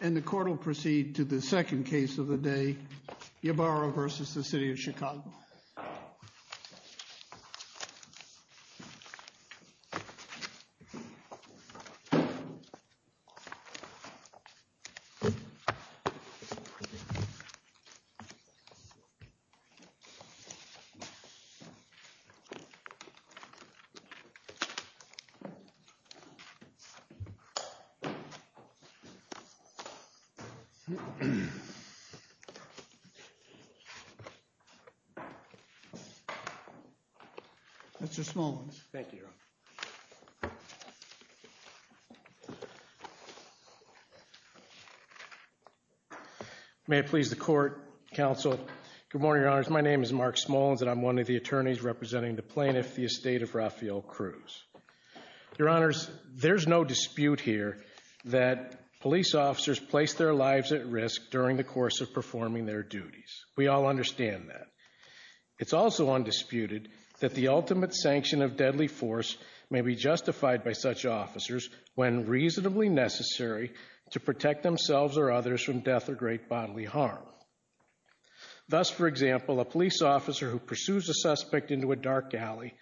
And the court will proceed to the second case of the day, Ybarra v. City of Chicago. Mr. Smullins. Thank you, Your Honor. May it please the court, counsel. Good morning, Your Honors. My name is Mark Smullins and I'm one of the attorneys representing the plaintiff, the estate of Rafael Cruz. Your Honors, there's no dispute here that police officers place their lives at risk during the course of performing their duties. We all understand that. It's also undisputed that the ultimate sanction of deadly force may be justified by such officers when reasonably necessary to protect themselves or others from death or great bodily harm. Thus, for example, a police officer who pursues a suspect into a dark alley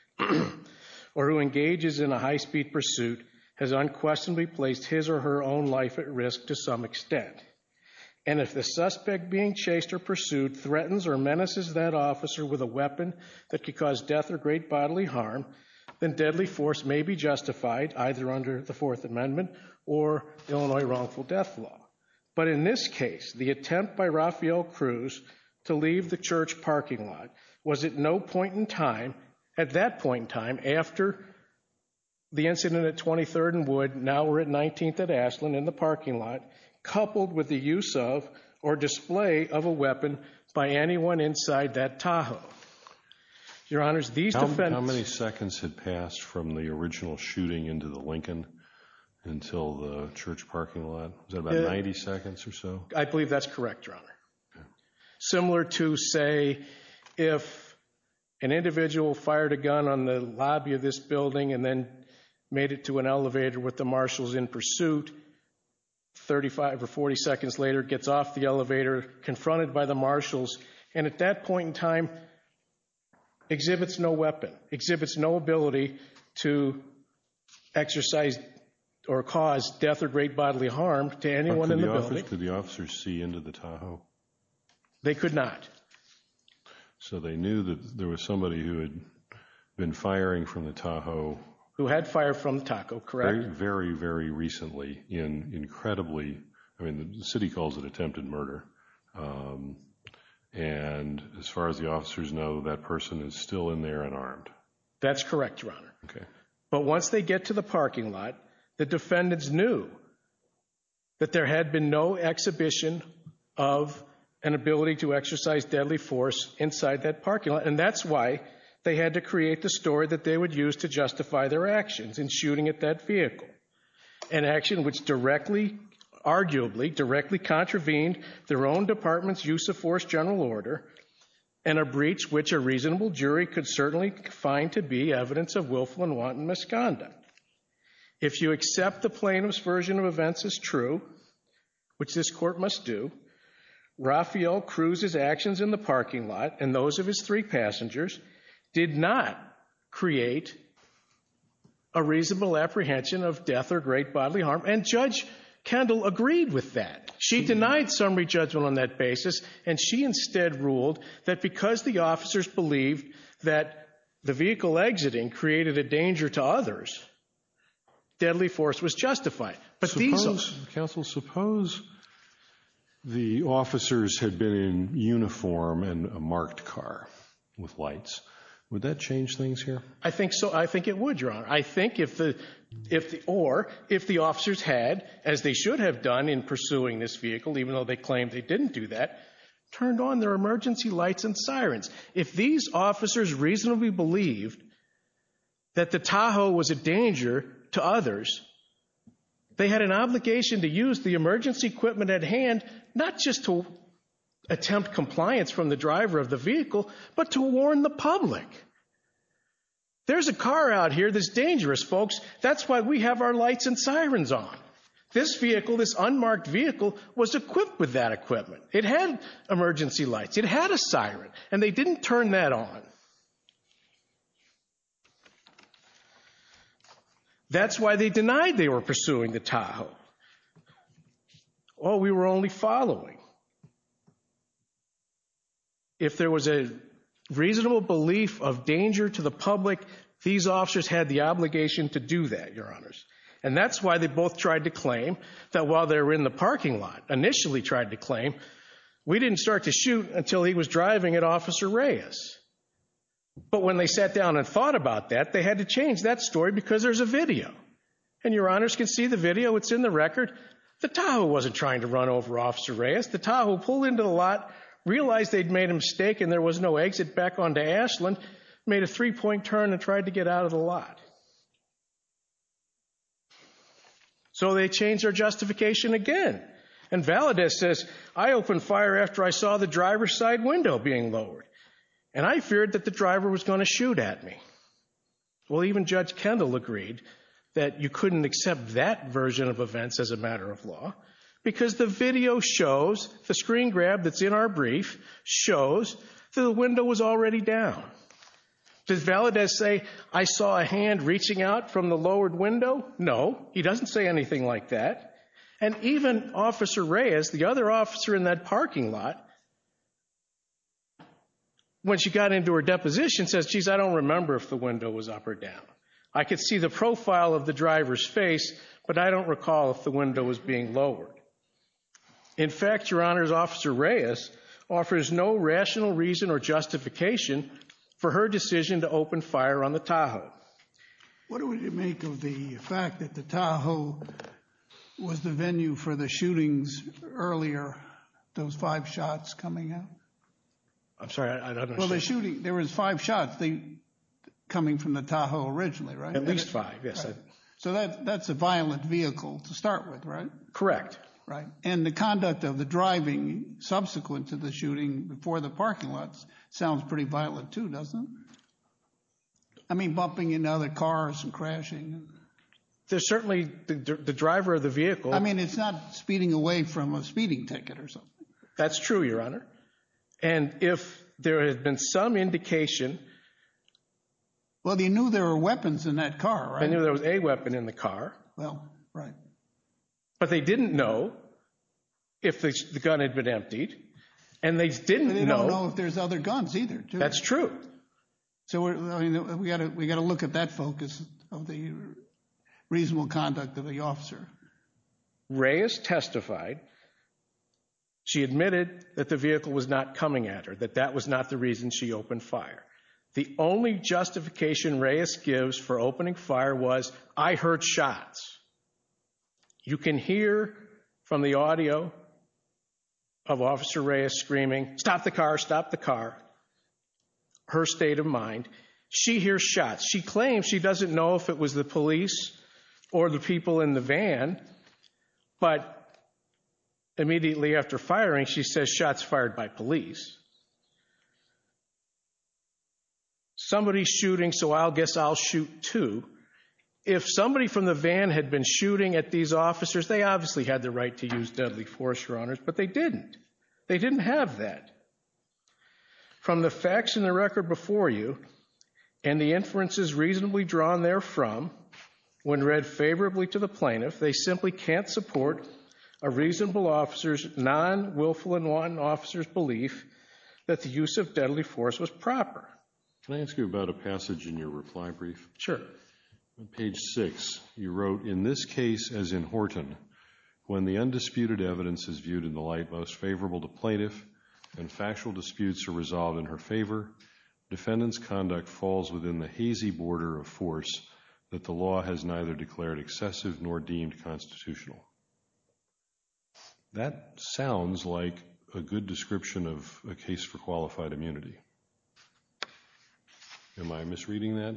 or who engages in a high-speed pursuit has unquestionably placed his or her own life at risk to some extent. And if the suspect being chased or pursued threatens or menaces that officer with a weapon that could cause death or great bodily harm, then deadly force may be justified, either under the Fourth Amendment or Illinois Wrongful Death Law. But in this case, the attempt by Rafael Cruz to leave the church parking lot was at no point in time, at that point in time, after the incident at 23rd and Wood, now we're at 19th and Ashland, in the parking lot, coupled with the use of or display of a weapon by anyone inside that Tahoe. Your Honors, these defendants... How many seconds had passed from the original shooting into the Lincoln until the church parking lot? Was that about 90 seconds or so? I believe that's correct, Your Honor. Similar to, say, if an individual fired a gun on the marshals in pursuit, 35 or 40 seconds later gets off the elevator, confronted by the marshals, and at that point in time exhibits no weapon, exhibits no ability to exercise or cause death or great bodily harm to anyone in the building. But could the officers see into the Tahoe? They could not. So they knew that there was somebody who had been firing from the Tahoe... Who had fired from the Tahoe, correct? Very, very recently, incredibly. I mean, the city calls it attempted murder. And as far as the officers know, that person is still in there unarmed. That's correct, Your Honor. But once they get to the parking lot, the defendants knew that there had been no exhibition of an ability to exercise deadly force inside that parking lot, and that's why they had to create the story that they would use to justify their actions in shooting at that vehicle, an action which directly, arguably, directly contravened their own department's use of force general order and a breach which a reasonable jury could certainly find to be evidence of willful and wanton misconduct. If you accept the plaintiff's version of events as true, which this Court must do, Rafael Cruz's actions in the parking lot and those of his three passengers did not create a reasonable apprehension of death or great bodily harm, and Judge Kendall agreed with that. She denied summary judgment on that basis, and she instead ruled that because the officers believed that the vehicle exiting created a danger to others, deadly force was justified. But these... Counsel, suppose the officers had been in uniform and a marked car with lights. Would that change things here? I think so. I think it would, Your Honor. I think if the...or, if the officers had, as they should have done in pursuing this vehicle, even though they claimed they didn't do that, turned on their emergency lights and sirens. If these officers reasonably believed that the Tahoe was a danger to others, they had an obligation to use the emergency equipment at hand, not just to attempt compliance from the driver of the vehicle, but to warn the public. There's a car out here that's dangerous, folks. That's why we have our lights and sirens on. This vehicle, this unmarked vehicle, was equipped with that equipment. It had emergency lights. It had a siren, and they didn't turn that on. That's why they denied they were pursuing the Tahoe. Oh, we were only following. If there was a reasonable belief of danger to the public, these officers had the obligation to do that, Your Honors. And that's why they both tried to claim that while they were in the parking lot, initially tried to claim, we didn't start to shoot until he was driving at Officer Reyes. But when they sat down and thought about that, they had to change that story because there's a video. And Your Honors can see the video. It's in the record. The Tahoe wasn't trying to run over Officer Reyes. The Tahoe pulled into the lot, realized they'd made a mistake and there was no exit back onto Ashland, made a three-point turn and tried to get out of the lot. So, they changed their justification again. And Valadez says, I opened fire after I saw the driver's side window being lowered, and I feared that the driver was going to shoot at me. Well, even Judge Kendall agreed that you couldn't accept that version of events as a matter of law because the video shows, the screen grab that's in our brief, shows that the window was already down. Did Valadez say, I saw a hand reaching out from the lowered window? No, he doesn't say anything like that. And even Officer Reyes, the other officer in that parking lot, when she got into her deposition says, geez, I don't remember if the window was up or down. I could see the profile of the driver's face, but I don't recall if the window was being lowered. In fact, Your Honors, Officer Reyes offers no rational reason or justification for her decision to open fire on the Tahoe. What would you make of the fact that the Tahoe was the venue for the shootings earlier, those five shots coming out? I'm sorry, I don't understand. Well, the shooting, there was five shots coming from the Tahoe originally, right? At least five, yes. So, that's a violent vehicle to start with, right? Correct. And the conduct of the driving subsequent to the shooting before the parking lot sounds pretty violent, too, doesn't it? I mean, bumping into other cars and crashing. There's certainly, the driver of the vehicle... I mean, it's not speeding away from a speeding ticket or something. That's true, Your Honor. And if there had been some indication... Well, they knew there were weapons in that car, right? They knew there was a weapon in the car, but they didn't know if the gun had been emptied, and they didn't know... They didn't know if there's other guns either, too. That's true. So, we got to look at that focus of the reasonable conduct of the officer. Reyes testified. She admitted that the vehicle was not coming at her, that that was not the reason she opened fire. The only justification Reyes gives for opening fire was, I heard shots. You can hear from the audio of Officer Reyes screaming, stop the car, stop the car. Her state of mind. She hears shots. She claims she doesn't know if it was the police or the people in the van, but immediately after firing, she says, shots fired by police. Somebody's shooting, so I'll guess I'll shoot, too. If somebody from the van had been shooting at these officers, they obviously had the right to use deadly force, Your Honors, but they didn't. They didn't have that. From the facts in the record before you, and the inferences reasonably drawn therefrom, when read favorably to the plaintiff, they simply can't support a reasonable officer's non-wilful and wanton officer's belief that the use of deadly force was proper. Can I ask you about a passage in your reply brief? Sure. On page six, you wrote, in this case as in Horton, when the undisputed evidence is viewed in the light most favorable to plaintiff and factual disputes are resolved in her favor, defendant's conduct falls within the hazy border of force that the law has neither declared excessive nor deemed constitutional. That sounds like a good description of a case for qualified immunity. Am I misreading that?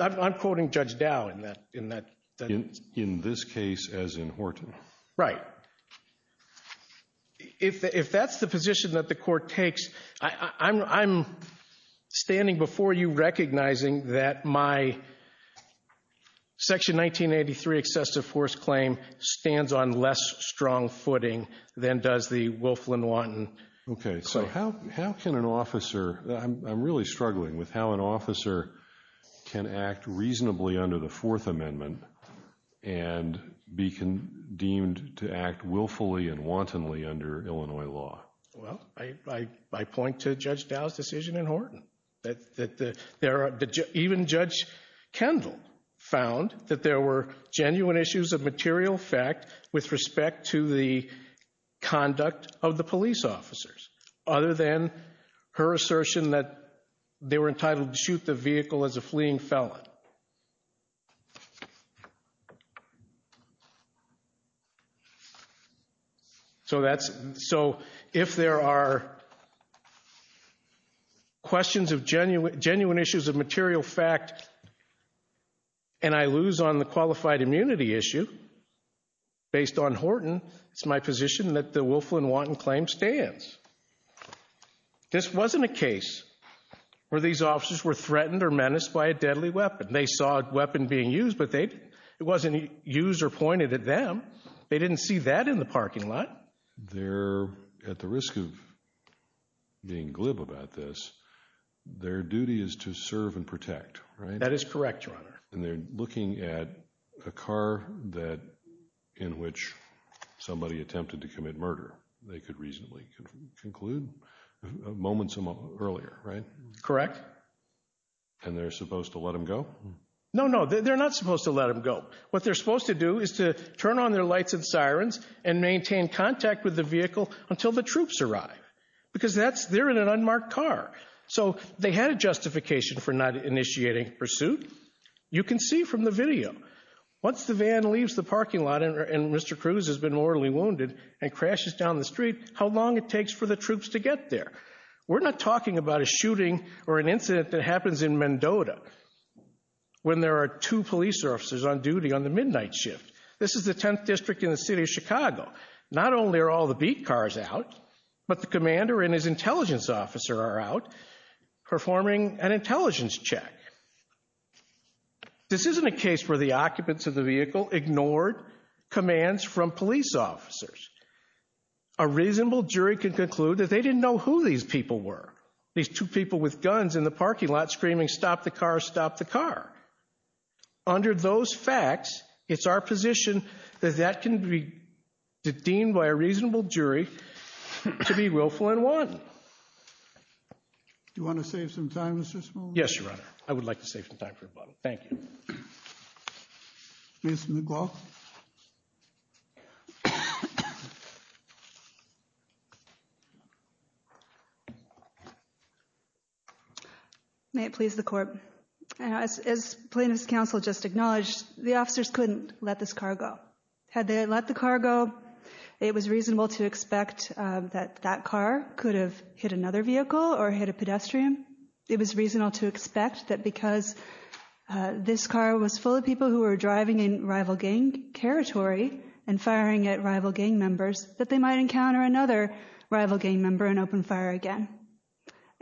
I'm quoting Judge Dow. In this case as in Horton. Right. If that's the position that the court takes, I'm standing before you recognizing that my section 1983 excessive force claim stands on less strong footing than does the willful and wanton claim. Okay, so how can an officer, I'm really struggling with how an officer can act reasonably under the Fourth Amendment and be deemed to act willfully and wantonly under Illinois law. Well, I point to Judge Dow's decision in Horton. Even Judge Kendall found that there were genuine issues of material fact with respect to the conduct of the police officers, other than her assertion that they were entitled to shoot the vehicle as a fleeing felon. So if there are questions of genuine issues of material fact and I lose on the qualified immunity issue based on Horton, it's my position that the willful and wanton claim stands. This wasn't a case where these officers were threatened or menaced by a deadly weapon. They saw a weapon being used, but it wasn't used or pointed at them. They didn't see that in the parking lot. They're at the being glib about this. Their duty is to serve and protect, right? That is correct, Your Honor. And they're looking at a car that in which somebody attempted to commit murder. They could reasonably conclude moments earlier, right? Correct. And they're supposed to let him go? No, no, they're not supposed to let him go. What they're supposed to do is to turn on their lights and sirens and wait until the troops arrive, because they're in an unmarked car. So they had a justification for not initiating pursuit. You can see from the video, once the van leaves the parking lot and Mr. Cruz has been mortally wounded and crashes down the street, how long it takes for the troops to get there. We're not talking about a shooting or an incident that happens in Mendota when there are two police officers on duty on the midnight shift. This is the 10th district in the But the commander and his intelligence officer are out performing an intelligence check. This isn't a case where the occupants of the vehicle ignored commands from police officers. A reasonable jury could conclude that they didn't know who these people were. These two people with guns in the parking lot screaming, stop the car, stop the car. Under those facts, it's our position that can be deemed by a reasonable jury to be willful and wanton. Do you want to save some time, Mr. Smallwood? Yes, Your Honor. I would like to save some time for rebuttal. Thank you. Ms. McGraw? May it please the court. As plaintiff's counsel just acknowledged, the officers couldn't let this car go. Had they let the car go, it was reasonable to expect that that car could have hit another vehicle or hit a pedestrian. It was reasonable to expect that because this car was full of people who were driving in rival gang territory and firing at rival gang members, that they might encounter another rival gang member and open fire again.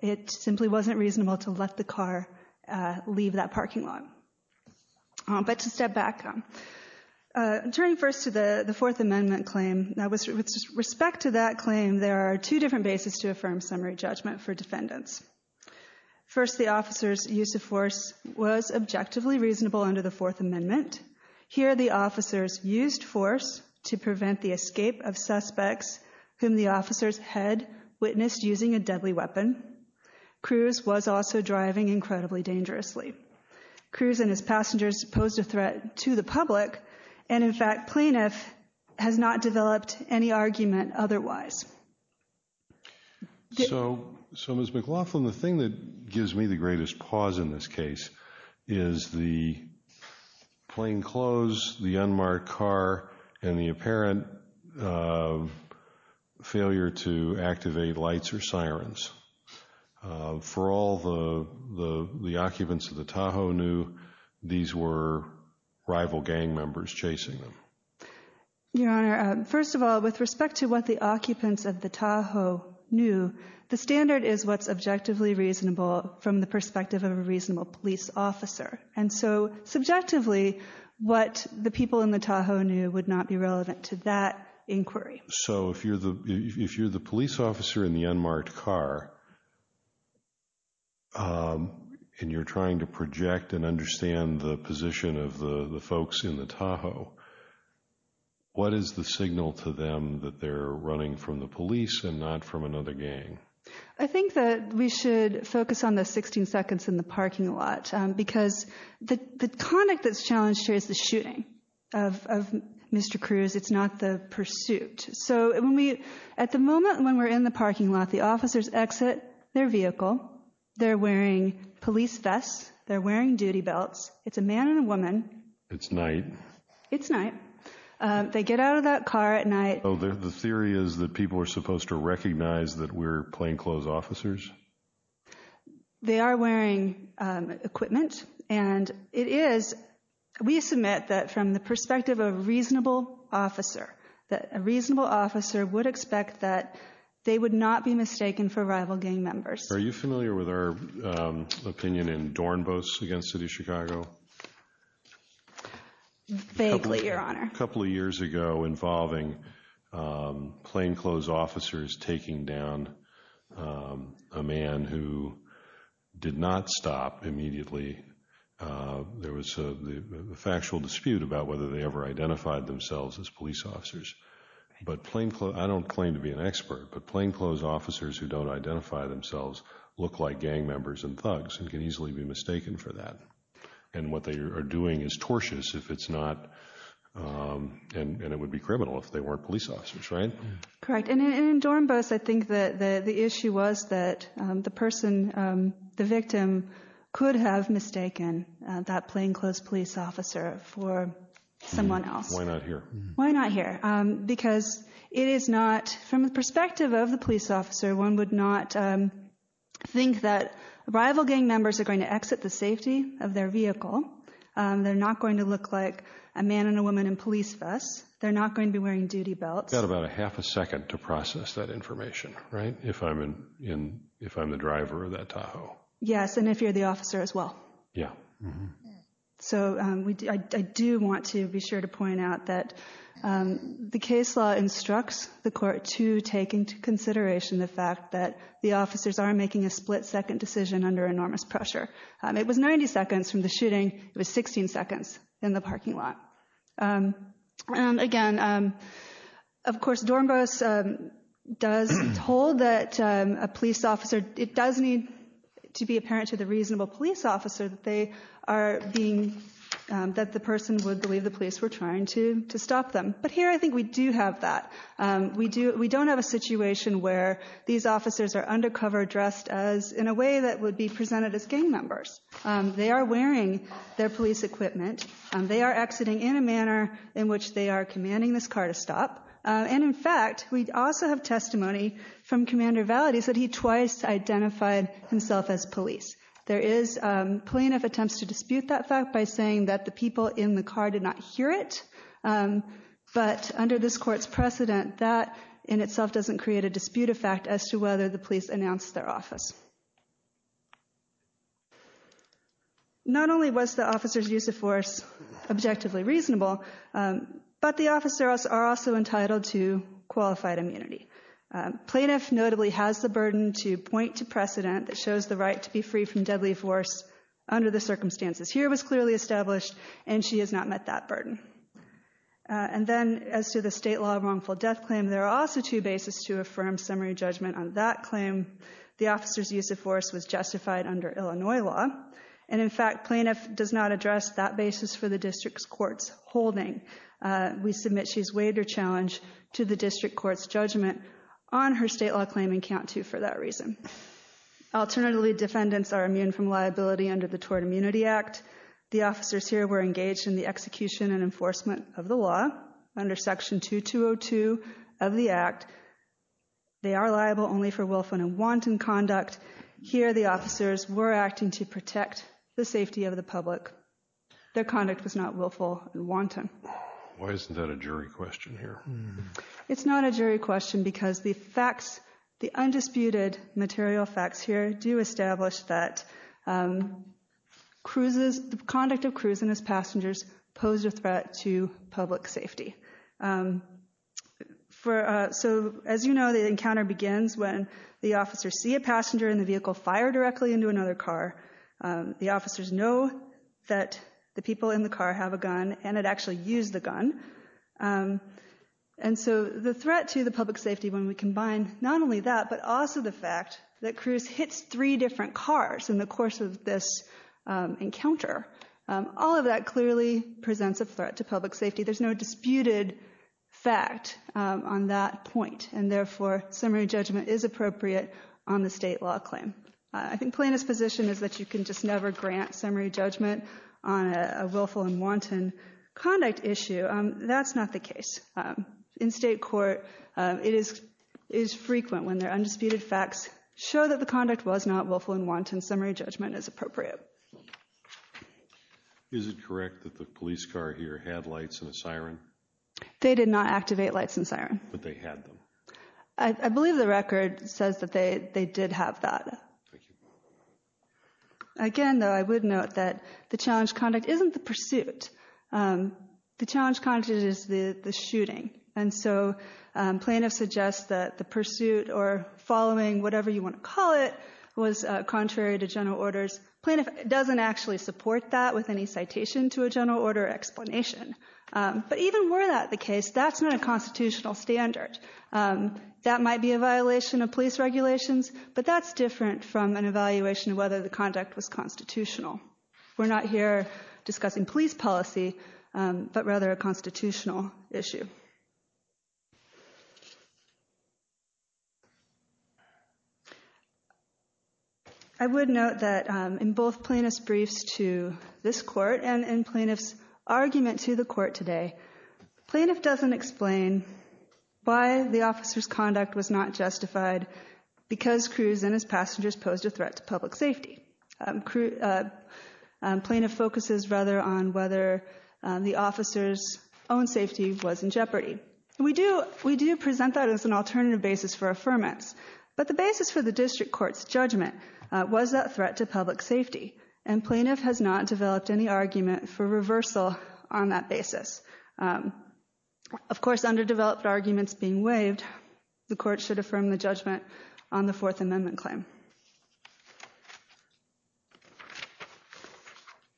It simply wasn't reasonable to let the car leave that parking lot. But to step back, turning first to the the Fourth Amendment claim, with respect to that claim, there are two different bases to affirm summary judgment for defendants. First, the officer's use of force was objectively reasonable under the Fourth Amendment. Here, the officers used force to prevent the escape of suspects whom the officers had witnessed using a deadly weapon. Cruz was also driving incredibly dangerously. Cruz and his passengers posed a threat to the public and, in fact, plaintiff has not developed any argument otherwise. So, Ms. McLaughlin, the thing that gives me the greatest pause in this case is the plainclothes, the unmarked car, and the apparent failure to activate lights or sirens. For all the the the occupants of the Tahoe knew, these were rival gang members chasing them. Your Honor, first of all, with respect to what the occupants of the Tahoe knew, the standard is what's objectively reasonable from the people in the Tahoe knew would not be relevant to that inquiry. So, if you're the police officer in the unmarked car, and you're trying to project and understand the position of the folks in the Tahoe, what is the signal to them that they're running from the police and not from another gang? I think that we should focus on the 16 seconds in the parking lot because the conduct that's challenged here is the shooting of Mr. Cruz. It's not the pursuit. So, at the moment when we're in the parking lot, the officers exit their vehicle. They're wearing police vests. They're wearing duty belts. It's a man and a woman. It's night. It's night. They get out of that car at night. Oh, the theory is that people are supposed to recognize that we're plainclothes officers? They are wearing equipment, and it is, we submit that from the perspective of a reasonable officer, that a reasonable officer would expect that they would not be mistaken for rival gang members. Are you familiar with our opinion in Dornbos against City of Chicago? Vaguely, Your Honor. A couple of years ago, involving plainclothes officers taking down a man who did not stop immediately, there was a factual dispute about whether they ever identified themselves as police officers. But plainclothes, I don't claim to be an expert, but plainclothes officers who don't identify themselves look like gang members and thugs and can easily be mistaken for that. And what they are doing is tortious if it's not, and it would be criminal if they weren't police officers, right? Correct. And in Dornbos, I think that the issue was that the person, the victim, could have mistaken that plainclothes police officer for someone else. Why not here? Because it is not, from the perspective of the police officer, one would not think that rival gang members are going to exit the They're not going to look like a man and a woman in police vests. They're not going to be wearing duty belts. You've got about a half a second to process that information, right? If I'm the driver of that Tahoe. Yes, and if you're the officer as well. Yeah. So I do want to be sure to point out that the case law instructs the court to take into consideration the fact that the officers are making a split-second decision under enormous pressure. It was 90 seconds from the shooting. It was 16 seconds in the parking lot. Again, of course, Dornbos does hold that a police officer, it does need to be apparent to the reasonable police officer that they are being, that the person would believe the police were trying to to stop them. But here I think we do have that. We do, we don't have a situation where these officers are undercover dressed as, in a way that would be presented as gang members. They are wearing their police equipment. They are exiting in a manner in which they are commanding this car to stop. And in fact, we also have testimony from Commander Valadez that he twice identified himself as police. There is plaintiff attempts to dispute that fact by saying that the people in the car did not hear it, but under this court's precedent that in itself doesn't create a dispute effect as to whether the officers use force. Not only was the officers use of force objectively reasonable, but the officers are also entitled to qualified immunity. Plaintiff notably has the burden to point to precedent that shows the right to be free from deadly force under the circumstances. Here it was clearly established and she has not met that burden. And then as to the state law wrongful death claim, there are also two bases to affirm summary judgment on that use of force was justified under Illinois law. And in fact, plaintiff does not address that basis for the district's court's holding. We submit she's waived her challenge to the district court's judgment on her state law claim and count to for that reason. Alternatively, defendants are immune from liability under the Tort Immunity Act. The officers here were engaged in the execution and enforcement of the law under Section 2202 of the Act. They are liable only for willful and wanton conduct. Here the officers were acting to protect the safety of the public. Their conduct was not willful and wanton. Why isn't that a jury question here? It's not a jury question because the facts, the undisputed material facts here do establish that cruises, the conduct of cruising as passengers, pose a threat to public safety. So as you know the encounter begins when the officers see a passenger and the vehicle fire directly into another car. The officers know that the people in the car have a gun and had actually used the gun. And so the threat to the public safety when we combine not only that but also the fact that cruise hits three different cars in the course of this encounter, all of that clearly presents a threat to public safety. So summary judgment is appropriate on the state law claim. I think Plaintiff's position is that you can just never grant summary judgment on a willful and wanton conduct issue. That's not the case. In state court it is is frequent when their undisputed facts show that the conduct was not willful and wanton. Summary judgment is appropriate. Is it correct that the police car here had lights and a siren? They did not activate lights and siren. But they had them. I believe the record says that they they did have that. Again though I would note that the challenge conduct isn't the pursuit. The challenge conduct is the the shooting. And so plaintiff suggests that the pursuit or following whatever you want to call it was contrary to general orders. Plaintiff doesn't actually support that with any citation to a general order explanation. But even were that the case that's not a constitutional standard. That might be a violation of police regulations but that's different from an evaluation of whether the conduct was constitutional. We're not here discussing police policy but rather a constitutional issue. I would note that in both plaintiff's briefs to this court and in plaintiff's argument to the court today, plaintiff doesn't explain why the officer's conduct was not justified because Cruz and his passengers posed a threat to public safety. Plaintiff focuses rather on whether the officer's own safety was in jeopardy. We do we do present that as an alternative basis for affirmance. But the basis for the district court's safety and plaintiff has not developed any argument for reversal on that basis. Of course underdeveloped arguments being waived, the court should affirm the judgment on the Fourth Amendment claim.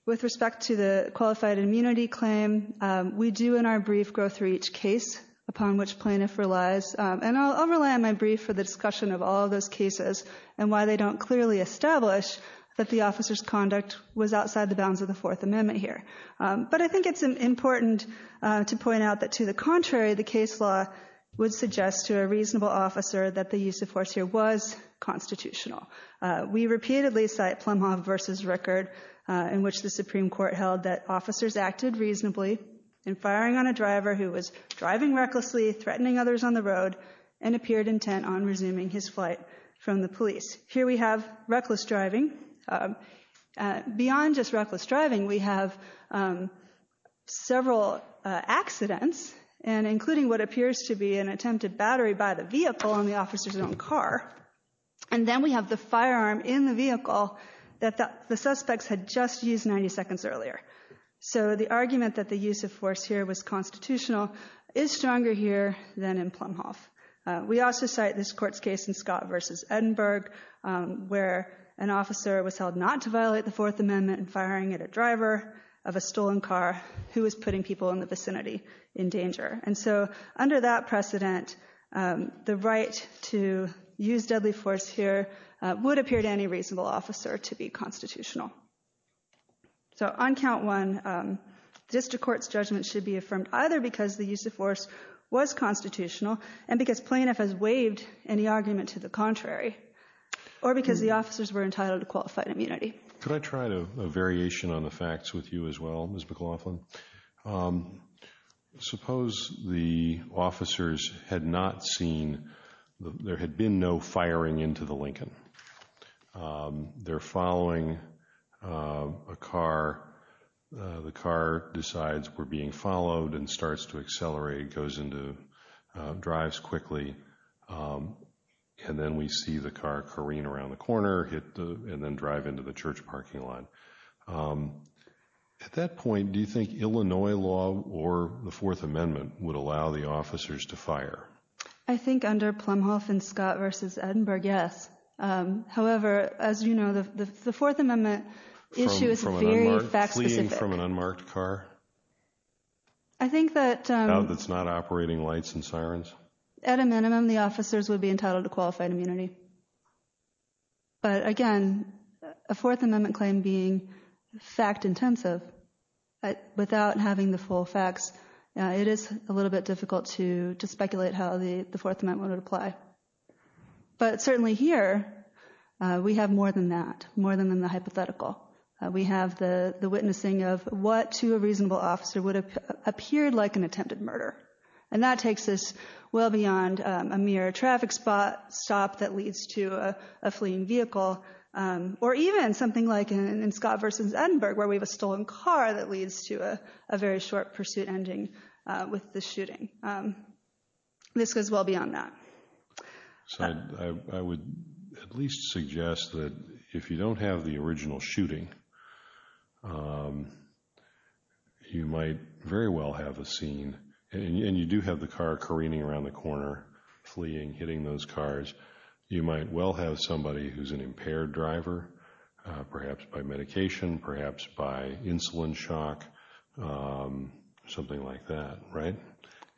With respect to the qualified immunity claim, we do in our brief go through each case upon which plaintiff relies and I'll rely on my brief for the discussion of all those cases and why they don't clearly establish that the officer's conduct was outside the bounds of the Fourth Amendment here. But I think it's important to point out that to the contrary, the case law would suggest to a reasonable officer that the use of force here was constitutional. We repeatedly cite Plumhove versus Rickard in which the Supreme Court held that officers acted reasonably in firing on a driver who was driving recklessly, threatening others on the road, and appeared intent on resuming his flight from the police. Here we have reckless driving. Beyond just reckless driving, we have several accidents and including what appears to be an attempted battery by the vehicle on the officer's own car. And then we have the firearm in the vehicle that the suspects had just used 90 seconds earlier. So the argument that the use of force here was constitutional is stronger here than in Plumhove. We also cite this court's case in Scott versus Edinburg where an officer was held not to violate the Fourth Amendment in firing at a driver of a stolen car who was putting people in the vicinity in danger. And so under that precedent, the right to use deadly force here would appear to any reasonable officer to be constitutional. So on count one, district court's either because the use of force was constitutional and because plaintiff has waived any argument to the contrary, or because the officers were entitled to qualified immunity. Could I try a variation on the facts with you as well, Ms. McLaughlin? Suppose the officers had not seen, there had been no firing into the Lincoln. They're following a car. The car decides we're being followed and starts to accelerate, goes into, drives quickly. And then we see the car careen around the corner, hit the, and then drive into the church parking lot. At that point, do you think Illinois law or the Fourth Amendment would allow the However, as you know, the Fourth Amendment issue is very fact-specific. Fleeing from an unmarked car? I think that... That's not operating lights and sirens? At a minimum, the officers would be entitled to qualified immunity. But again, a Fourth Amendment claim being fact-intensive, without having the full facts, it is a little bit difficult to to speculate how the the Fourth Amendment would apply. But certainly here, we have more than that, more than the hypothetical. We have the the witnessing of what to a reasonable officer would have appeared like an attempted murder. And that takes us well beyond a mere traffic stop that leads to a fleeing vehicle, or even something like in Scott versus Edinburgh, where we have a stolen car that leads to a very short pursuit ending with the shooting. This goes well beyond that. So I would at least suggest that if you don't have the original shooting, you might very well have a scene. And you do have the car careening around the corner, fleeing, hitting those cars. You might well have somebody who's an impaired driver, perhaps by medication, perhaps by insulin shock, something like that, right?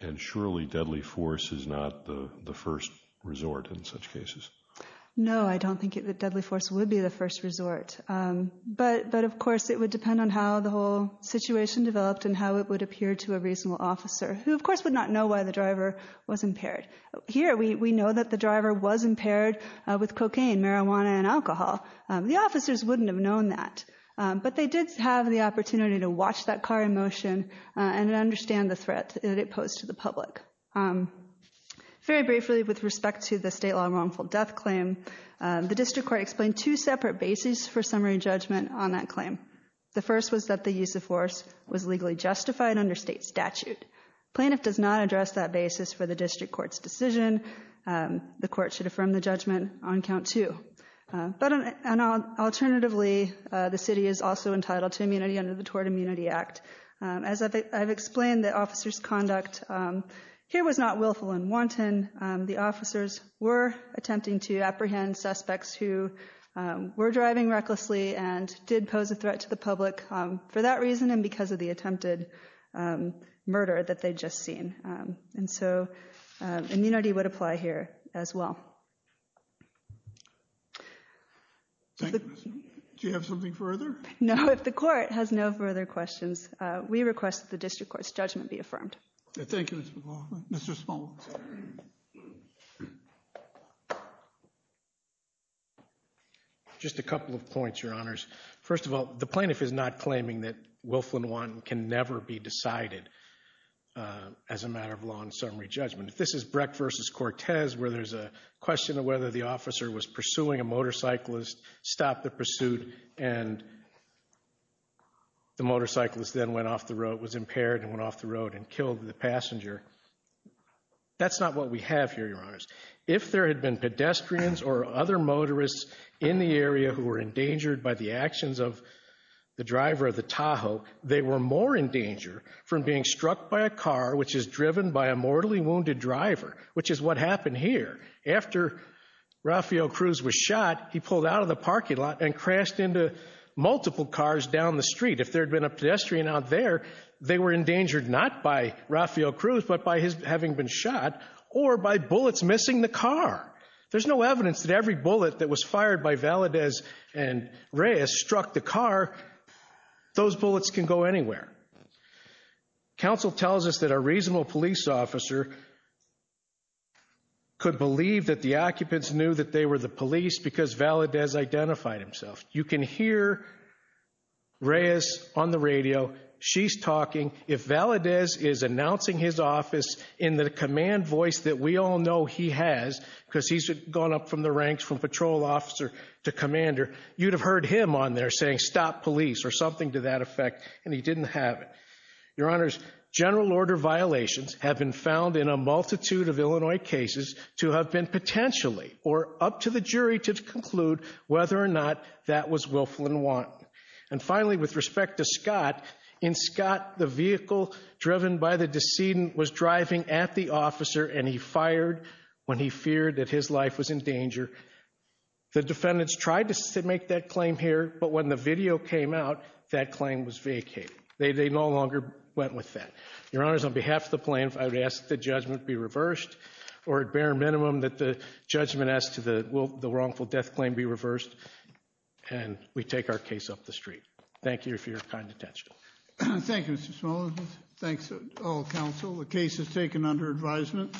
And surely deadly force is not the the first resort in such cases? No, I don't think that deadly force would be the first resort. But of course it would depend on how the whole situation developed and how it would appear to a reasonable officer, who of course would not know why the driver was impaired. Here, we know that the driver was impaired with cocaine, marijuana, and alcohol. The officers wouldn't have known that. But they did have the opportunity to watch that car in motion and understand the threat that it posed to the public. Very briefly, with respect to the state law wrongful death claim, the district court explained two separate bases for summary judgment on that claim. The first was that the use of force was legally justified under state statute. Plaintiff does not address that basis for the district court's decision. The court should affirm the judgment on count two. But alternatively, the city is also entitled to immunity under the Tort Immunity Act. As I've explained, the officers' conduct here was not willful and wanton. The officers were attempting to apprehend suspects who were driving recklessly and did pose a threat to the public for that reason and because of the attempted murder that they'd just seen. And so, immunity would apply here as well. Do you have something further? No, if the court has no further questions, we request that the district court's judgment be affirmed. Thank you, Ms. McLaughlin. Mr. Small. Just a couple of points, Your Honors. First of all, the plaintiff is not as a matter of law and summary judgment. If this is Brecht versus Cortez, where there's a question of whether the officer was pursuing a motorcyclist, stopped the pursuit, and the motorcyclist then went off the road, was impaired, and went off the road and killed the passenger, that's not what we have here, Your Honors. If there had been pedestrians or other motorists in the area who were endangered by the actions of the driver of the Tahoe, they were more in danger from being struck by a car which is driven by a mortally wounded driver, which is what happened here. After Rafael Cruz was shot, he pulled out of the parking lot and crashed into multiple cars down the street. If there had been a pedestrian out there, they were endangered not by Rafael Cruz, but by his having been shot, or by bullets missing the car. There's no evidence that every bullet that was fired by Valadez and Reyes struck the car. Those bullets can go anywhere. Counsel tells us that a reasonable police officer could believe that the occupants knew that they were the police because Valadez identified himself. You can hear Reyes on the radio. She's talking. If Valadez is announcing his office in the command voice that we all know he has, because he's gone up from the ranks from patrol officer to commander, you'd have heard him on there saying, stop police, or something to that effect, and he didn't have it. Your Honors, general order violations have been found in a multitude of Illinois cases to have been potentially, or up to the jury to conclude, whether or not that was willful and want. And finally, with respect to Scott, in Scott, the vehicle driven by the decedent was driving at the officer and he fired when he feared that his life was in danger. The defendants tried to make that claim here, but when the video came out, that claim was vacated. They no longer went with that. Your Honors, on behalf of the plaintiff, I would ask the judgment be reversed, or at bare minimum that the judgment as to the wrongful death claim be reversed, and we take our case up the street. Thank you for your kind attention. Thank you, Mr. Smollett. Thanks to all counsel. The case is taken under advisement.